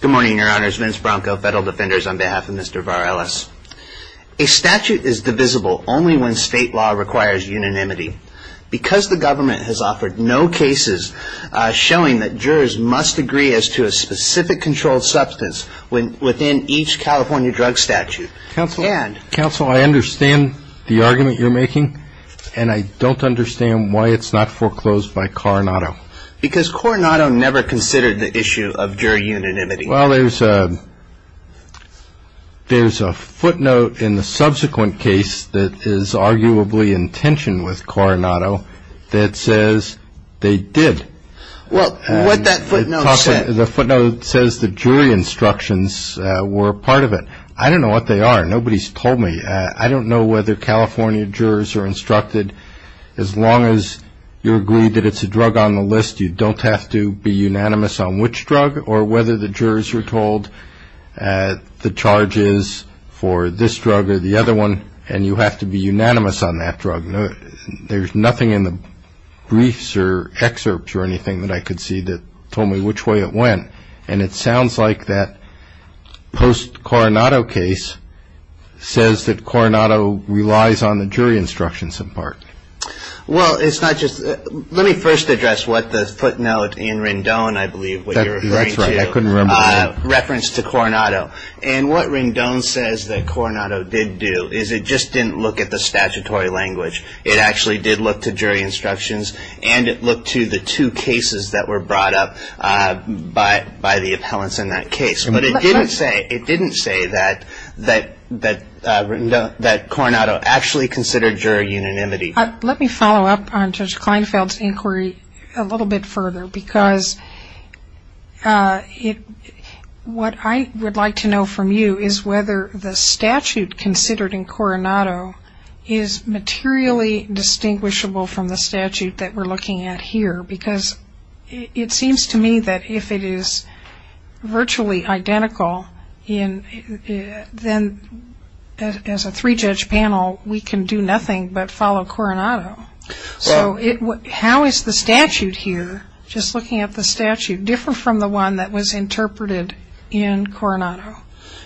Good morning, your honors. Vince Bronco, Federal Defenders, on behalf of Mr. Varelas. A statute is divisible only when state law requires unanimity. Because the government has offered no cases showing that jurors must agree as to a specific controlled substance within each California drug statute. Counsel, I understand the argument you're making, and I don't understand why it's not foreclosed by Coronado. Because Coronado never considered the issue of jury unanimity. Well, there's a footnote in the subsequent case that is arguably in tension with Coronado that says they did. Well, what that footnote said. The footnote says the jury instructions were a part of it. I don't know what they are. Nobody's told me. I don't know whether California jurors are instructed, as long as you agree that it's a drug on the list, you don't have to be unanimous on which drug, or whether the jurors are told the charge is for this drug or the other one, and you have to be unanimous on that drug. There's nothing in the briefs or excerpts or anything that I could see that told me which way it went. And it sounds like that post-Coronado case says that Coronado relies on the jury instructions, in part. Well, it's not just that. Let me first address what the footnote in Rendon, I believe, what you're referring to. That's right. I couldn't remember. Reference to Coronado. And what Rendon says that Coronado did do is it just didn't look at the statutory language. It actually did look to jury instructions, and it looked to the two cases that were brought up. By the appellants in that case. But it didn't say that Coronado actually considered jury unanimity. Let me follow up on Judge Kleinfeld's inquiry a little bit further, because what I would like to know from you is whether the statute considered in Coronado is materially distinguishable from the statute that we're looking at here, because it seems to me that if it is virtually identical, then as a three-judge panel we can do nothing but follow Coronado. So how is the statute here, just looking at the statute, different from the one that was interpreted in Coronado?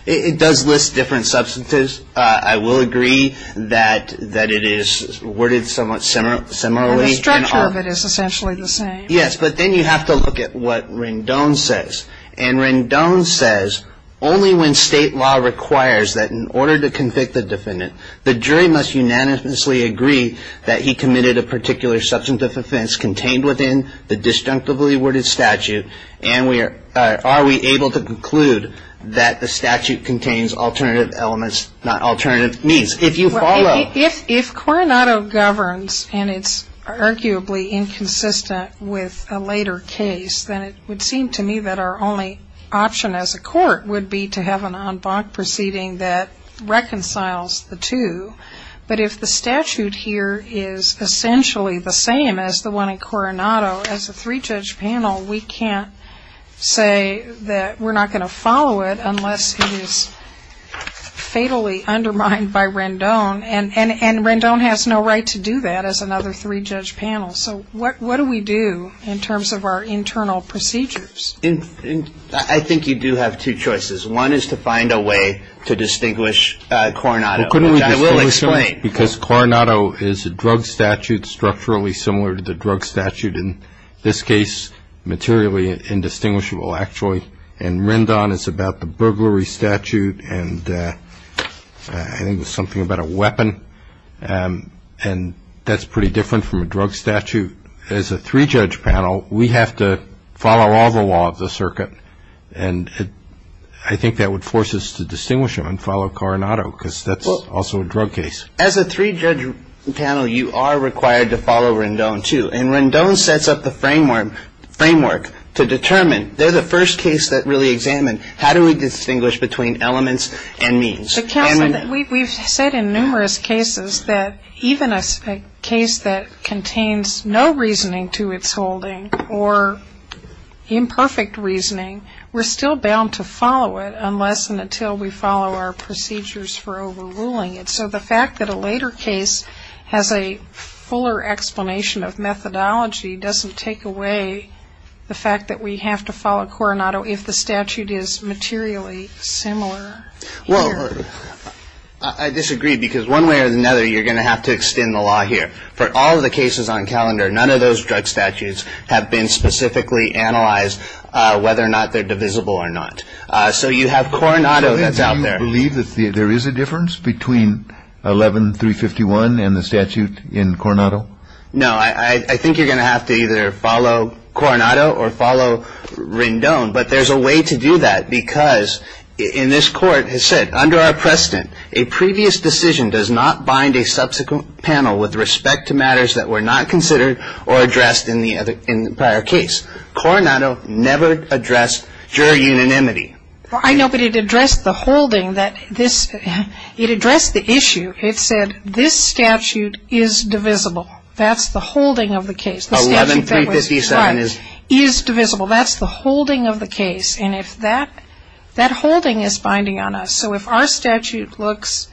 It does list different substances. I will agree that it is worded somewhat similarly. The structure of it is essentially the same. Yes, but then you have to look at what Rendon says. And Rendon says only when state law requires that in order to convict a defendant, the jury must unanimously agree that he committed a particular substance of offense contained within the disjunctively worded statute, and are we able to conclude that the statute contains alternative elements, not alternative means. If Coronado governs and it's arguably inconsistent with a later case, then it would seem to me that our only option as a court would be to have an en banc proceeding that reconciles the two. But if the statute here is essentially the same as the one in Coronado, as a three-judge panel we can't say that we're not going to follow it unless it is fatally undermined by Rendon, and Rendon has no right to do that as another three-judge panel. So what do we do in terms of our internal procedures? I think you do have two choices. One is to find a way to distinguish Coronado, which I will explain. Because Coronado is a drug statute, structurally similar to the drug statute, in this case materially indistinguishable actually, and Rendon is about the burglary statute and I think it was something about a weapon, and that's pretty different from a drug statute. As a three-judge panel, we have to follow all the law of the circuit, and I think that would force us to distinguish them and follow Coronado, because that's also a drug case. As a three-judge panel, you are required to follow Rendon too, and Rendon sets up the framework to determine. They're the first case that really examined how do we distinguish between elements and means. Counsel, we've said in numerous cases that even a case that contains no reasoning to its holding or imperfect reasoning, we're still bound to follow it unless and until we follow our procedures for overruling it. So the fact that a later case has a fuller explanation of methodology doesn't take away the fact that we have to follow Coronado if the statute is materially similar. Well, I disagree, because one way or another you're going to have to extend the law here. For all of the cases on calendar, none of those drug statutes have been specifically analyzed whether or not they're divisible or not. So you have Coronado that's out there. Do you believe that there is a difference between 11-351 and the statute in Coronado? No. I think you're going to have to either follow Coronado or follow Rendon, but there's a way to do that because, in this court, it said, under our precedent, a previous decision does not bind a subsequent panel with respect to matters that were not considered or addressed in the prior case. Coronado never addressed jury unanimity. Well, I know, but it addressed the holding that this ‑‑ it addressed the issue. It said this statute is divisible. That's the holding of the case. 11-357 is? Is divisible. That's the holding of the case. And if that ‑‑ that holding is binding on us. So if our statute looks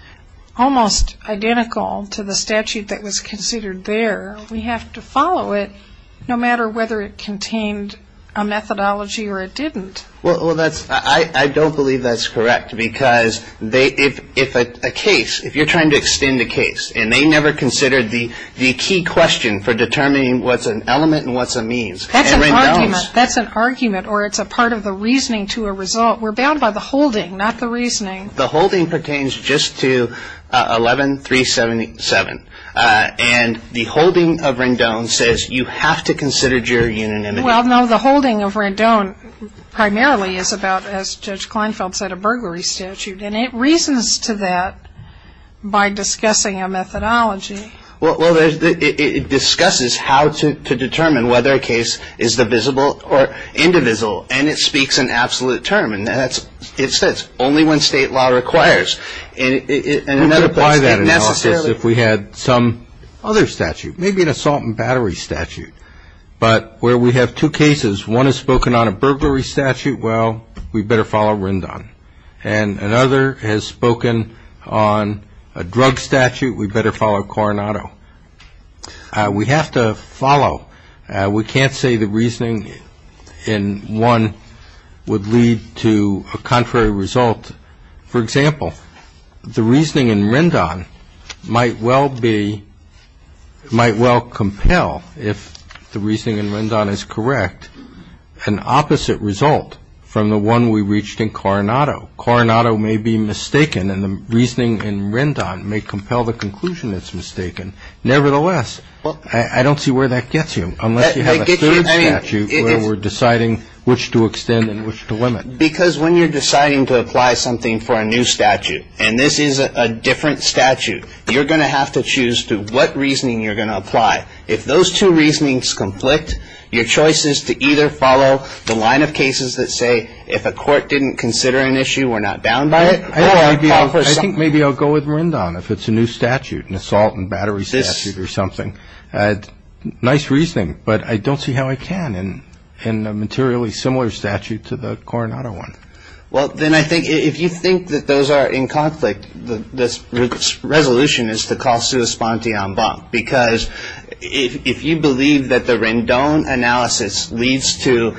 almost identical to the statute that was considered there, we have to follow it no matter whether it contained a methodology or it didn't. Well, that's ‑‑ I don't believe that's correct because they ‑‑ if a case, if you're trying to extend a case and they never considered the key question for determining what's an element and what's a means. That's an argument. That's an argument or it's a part of the reasoning to a result. We're bound by the holding, not the reasoning. The holding pertains just to 11-377. And the holding of Rendon says you have to consider jury unanimity. Well, no, the holding of Rendon primarily is about, as Judge Kleinfeld said, a burglary statute. And it reasons to that by discussing a methodology. Well, it discusses how to determine whether a case is divisible or indivisible. And it speaks an absolute term. And it says only when state law requires. And in other places, it necessarily ‑‑ We could apply that analysis if we had some other statute, maybe an assault and battery statute. But where we have two cases, one has spoken on a burglary statute, well, we better follow Rendon. And another has spoken on a drug statute, we better follow Coronado. We have to follow. We can't say the reasoning in one would lead to a contrary result. For example, the reasoning in Rendon might well be, might well compel if the reasoning in Rendon is correct, an opposite result from the one we reached in Coronado. Coronado may be mistaken, and the reasoning in Rendon may compel the conclusion it's mistaken. Nevertheless, I don't see where that gets you, unless you have a third statute where we're deciding which to extend and which to limit. Because when you're deciding to apply something for a new statute, and this is a different statute, you're going to have to choose to what reasoning you're going to apply. If those two reasonings conflict, your choice is to either follow the line of cases that say, if a court didn't consider an issue, we're not bound by it. I think maybe I'll go with Rendon if it's a new statute, an assault and battery statute or something. Nice reasoning, but I don't see how I can in a materially similar statute to the Coronado one. Well, then I think if you think that those are in conflict, the resolution is to call sua sponte en banc. Because if you believe that the Rendon analysis leads to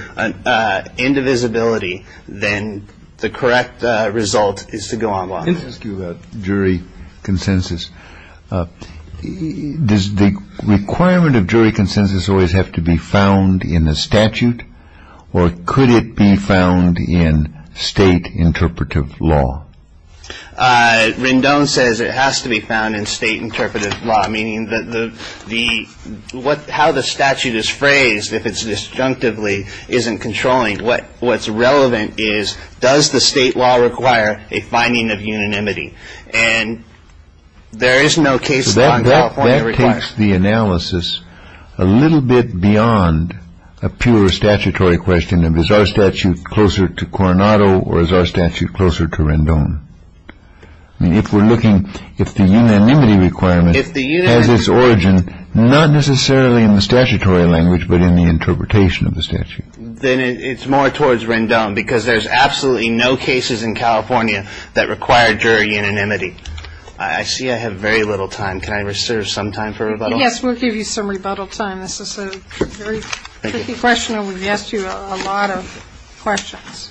indivisibility, then the correct result is to go en banc. Let me ask you about jury consensus. Does the requirement of jury consensus always have to be found in the statute, or could it be found in state interpretive law? Rendon says it has to be found in state interpretive law, meaning how the statute is phrased, if it's disjunctively, isn't controlling. What's relevant is, does the state law require a finding of unanimity? That takes the analysis a little bit beyond a pure statutory question. Is our statute closer to Coronado or is our statute closer to Rendon? If the unanimity requirement has its origin not necessarily in the statutory language, but in the interpretation of the statute. Then it's more towards Rendon, because there's absolutely no cases in California that require jury unanimity. I see I have very little time. Can I reserve some time for rebuttal? Yes, we'll give you some rebuttal time. This is a very tricky question, and we've asked you a lot of questions.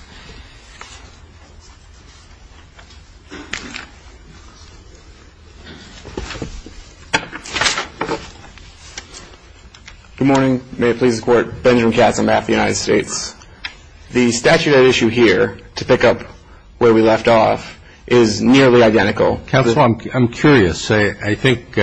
Good morning. May it please the Court. Benjamin Katz on behalf of the United States. The statute at issue here, to pick up where we left off, is nearly identical. Counsel, I'm curious. I think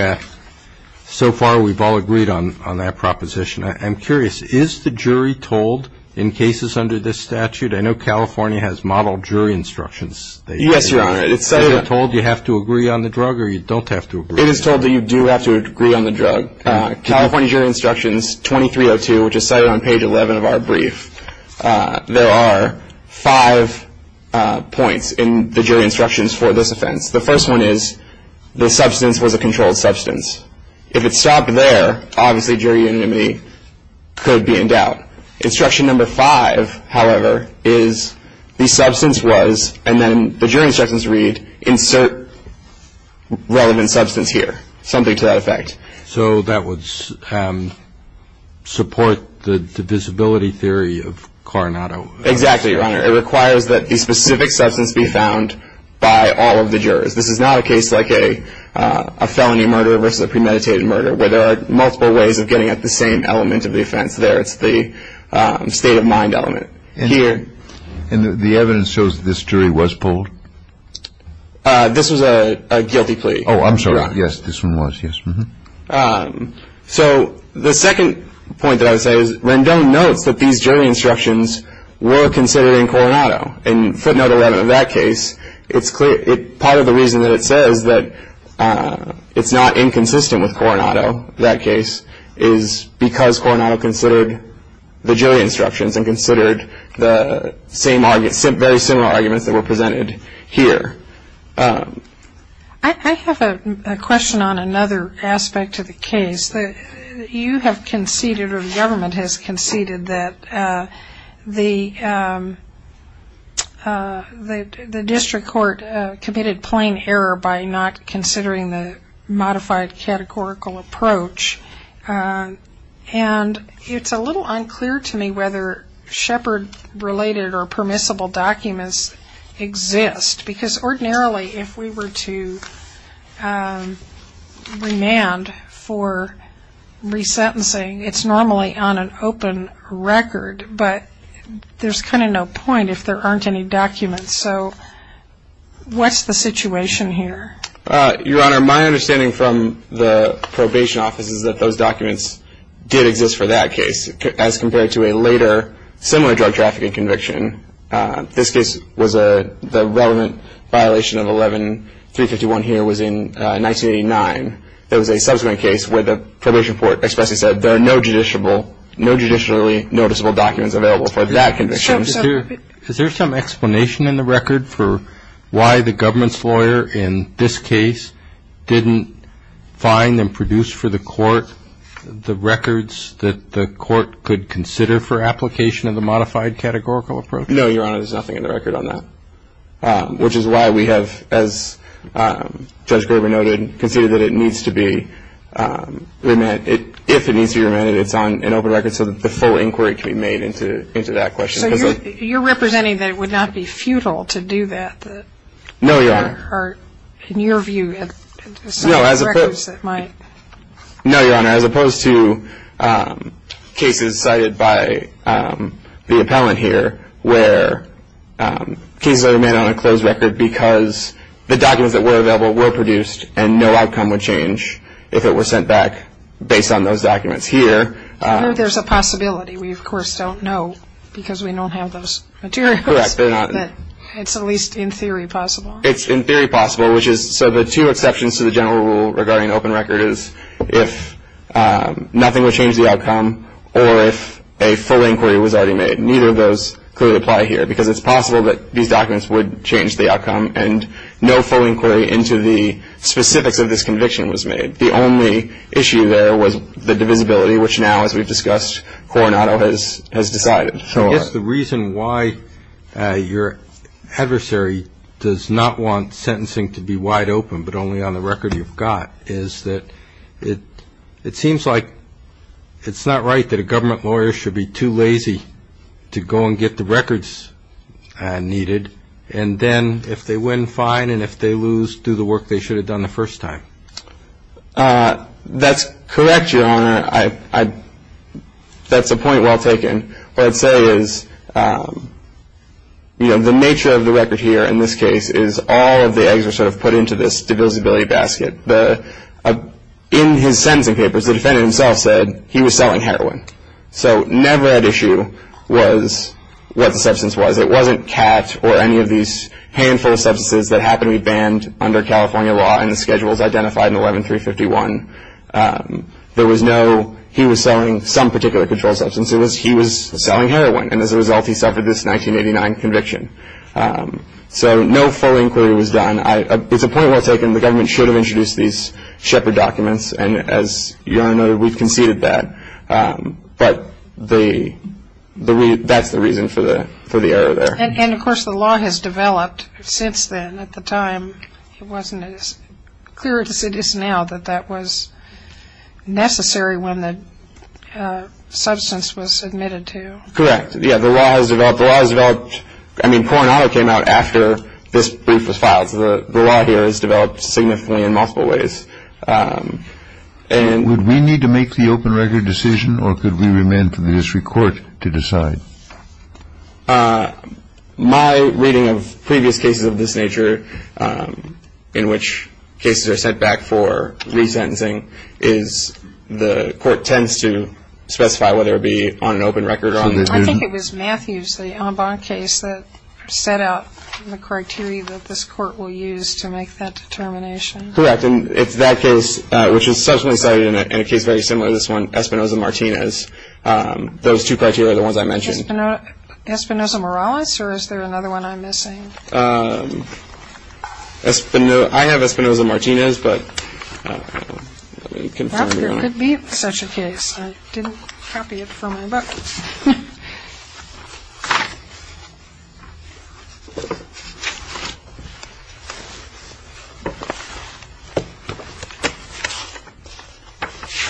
so far we've all agreed on that proposition. I'm curious. Is the jury told in cases under this statute? I know California has model jury instructions. Yes, Your Honor. Is it told you have to agree on the drug or you don't have to agree on the drug? It is told that you do have to agree on the drug. In California Jury Instructions 2302, which is cited on page 11 of our brief, there are five points in the jury instructions for this offense. The first one is the substance was a controlled substance. If it stopped there, obviously jury unanimity could be in doubt. Instruction number five, however, is the substance was, and then the jury instructions read, insert relevant substance here, something to that effect. So that would support the visibility theory of Coronado? Exactly, Your Honor. It requires that the specific substance be found by all of the jurors. This is not a case like a felony murder versus a premeditated murder, where there are multiple ways of getting at the same element of the offense there. It's the state of mind element here. And the evidence shows that this jury was polled? This was a guilty plea. Oh, I'm sorry. Yes, this one was. Yes. So the second point that I would say is Rendon notes that these jury instructions were considered in Coronado. In footnote 11 of that case, part of the reason that it says that it's not inconsistent with Coronado, that case, is because Coronado considered the jury instructions and considered the very similar arguments that were presented here. I have a question on another aspect of the case. You have conceded, or the government has conceded, that the district court committed plain error by not considering the modified categorical approach. And it's a little unclear to me whether Shepard-related or permissible documents exist, because ordinarily if we were to remand for resentencing, it's normally on an open record. But there's kind of no point if there aren't any documents. So what's the situation here? Your Honor, my understanding from the probation office is that those documents did exist for that case, as compared to a later similar drug trafficking conviction. This case was the relevant violation of 11-351 here was in 1989. There was a subsequent case where the probation court expressly said there are no judicially noticeable documents available for that conviction. Is there some explanation in the record for why the government's lawyer in this case didn't find and produce for the court the records that the court could consider for application of the modified categorical approach? No, Your Honor, there's nothing in the record on that, which is why we have, as Judge Graber noted, conceded that it needs to be remanded. If it needs to be remanded, it's on an open record so that the full inquiry can be made into that question. So you're representing that it would not be futile to do that? No, Your Honor. Or in your view, as some of the records that might? No, Your Honor, as opposed to cases cited by the appellant here, where cases are remanded on a closed record because the documents that were available were produced and no outcome would change if it were sent back based on those documents. Here. I know there's a possibility. We, of course, don't know because we don't have those materials. Correct. But it's at least in theory possible. It's in theory possible. So the two exceptions to the general rule regarding open record is if nothing would change the outcome or if a full inquiry was already made. Neither of those clearly apply here because it's possible that these documents would change the outcome and no full inquiry into the specifics of this conviction was made. The only issue there was the divisibility, which now, as we've discussed, Coronado has decided. I guess the reason why your adversary does not want sentencing to be wide open but only on the record you've got is that it seems like it's not right that a government lawyer should be too lazy to go and get the records needed and then if they win, fine, and if they lose, do the work they should have done the first time. That's correct, Your Honor. That's a point well taken. What I'd say is the nature of the record here in this case is all of the eggs are sort of put into this divisibility basket. In his sentencing papers, the defendant himself said he was selling heroin. So never at issue was what the substance was. It wasn't cat or any of these handful of substances that happened to be banned under California law and the schedules identified in 11351. There was no he was selling some particular controlled substance. It was he was selling heroin, and as a result, he suffered this 1989 conviction. So no full inquiry was done. It's a point well taken. The government should have introduced these shepherd documents, and as Your Honor noted, we've conceded that. But that's the reason for the error there. And, of course, the law has developed since then. At the time, it wasn't as clear as it is now that that was necessary when the substance was submitted to. Correct. Yeah, the law has developed. The law has developed. I mean, Coronado came out after this brief was filed. So the law here has developed significantly in multiple ways. Would we need to make the open record decision, or could we remain for the district court to decide? My reading of previous cases of this nature, in which cases are sent back for resentencing, is the court tends to specify whether it be on an open record or not. I think it was Matthews, the Ambon case, that set out the criteria that this court will use to make that determination. Correct. And it's that case, which is subsequently cited in a case very similar to this one, Espinosa-Martinez. Those two criteria, the ones I mentioned. Espinosa-Morales, or is there another one I'm missing? I have Espinosa-Martinez, but let me confirm, Your Honor. Well, there could be such a case. I didn't copy it from my book.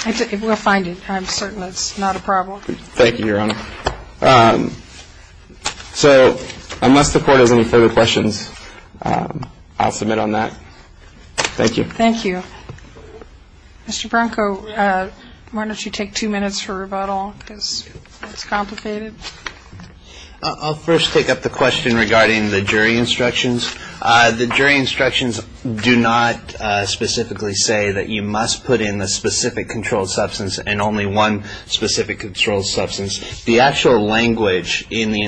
It will find it. I'm certain it's not a problem. Thank you, Your Honor. So unless the court has any further questions, I'll submit on that. Thank you. Thank you. Mr. Branco, why don't you take two minutes for rebuttal? It's complicated. I'll first take up the question regarding the jury instructions. The jury instructions do not specifically say that you must put in a specific controlled substance and only one specific controlled substance. The actual language in the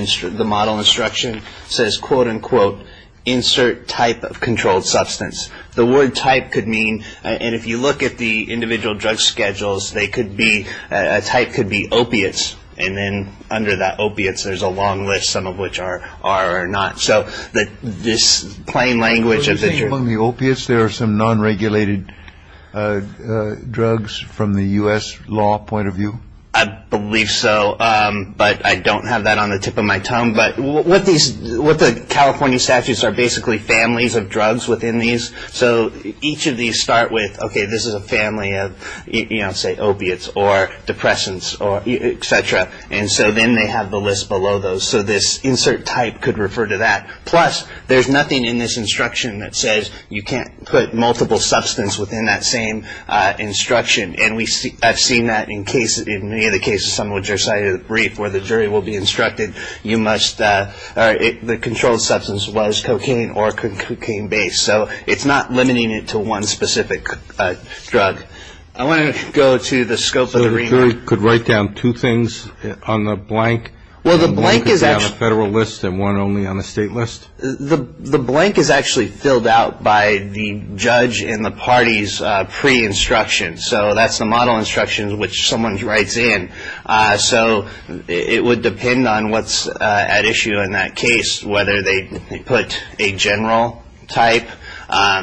model instruction says, quote, unquote, insert type of controlled substance. The word type could mean, and if you look at the individual drug schedules, a type could be opiates, and then under that opiates, there's a long list, some of which are or are not. So this plain language of the jury. Were you saying among the opiates, there are some non-regulated drugs from the U.S. law point of view? I believe so, but I don't have that on the tip of my tongue. But what the California statutes are basically families of drugs within these. So each of these start with, okay, this is a family of, you know, say, opiates or depressants, et cetera. And so then they have the list below those. So this insert type could refer to that. Plus, there's nothing in this instruction that says you can't put multiple substances within that same instruction. And I've seen that in many of the cases, some of which are cited in the brief where the jury will be instructed, you must or the controlled substance was cocaine or cocaine-based. So it's not limiting it to one specific drug. I want to go to the scope of the remark. So the jury could write down two things on the blank? Well, the blank is actually. One could be on a federal list and one only on the state list? The blank is actually filled out by the judge in the party's pre-instruction. So that's the model instruction which someone writes in. So it would depend on what's at issue in that case, whether they put a general type,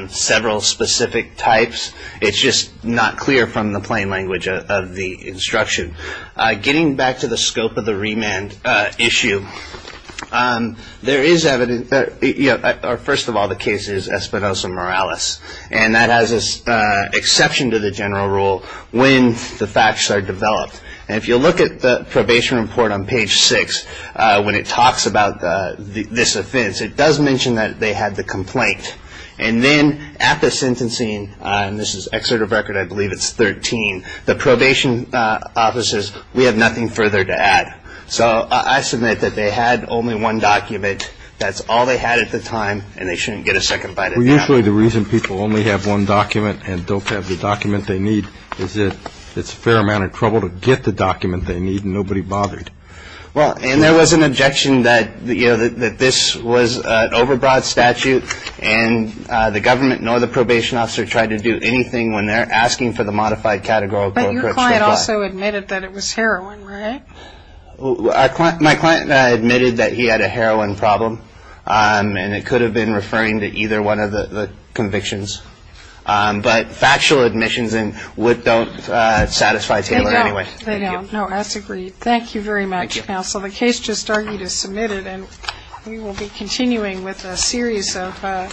several specific types. It's just not clear from the plain language of the instruction. Getting back to the scope of the remand issue, there is evidence that, you know, first of all, the case is Espinoza-Morales. And that has an exception to the general rule when the facts are developed. And if you look at the probation report on page six, when it talks about this offense, it does mention that they had the complaint. And then at the sentencing, and this is Excerpt of Record, I believe it's 13, the probation officers, we have nothing further to add. So I submit that they had only one document. That's all they had at the time, and they shouldn't get a second bite at that. Well, usually the reason people only have one document and don't have the document they need is that it's a fair amount of trouble to get the document they need, and nobody bothered. Well, and there was an objection that, you know, that this was an overbroad statute, and the government nor the probation officer tried to do anything when they're asking for the modified categorical and correctional clause. But your client also admitted that it was heroin, right? My client admitted that he had a heroin problem, and it could have been referring to either one of the convictions. But factual admissions don't satisfy Taylor anyway. They don't. No, that's agreed. Thank you very much, counsel. The case just argued is submitted, and we will be continuing with a series of.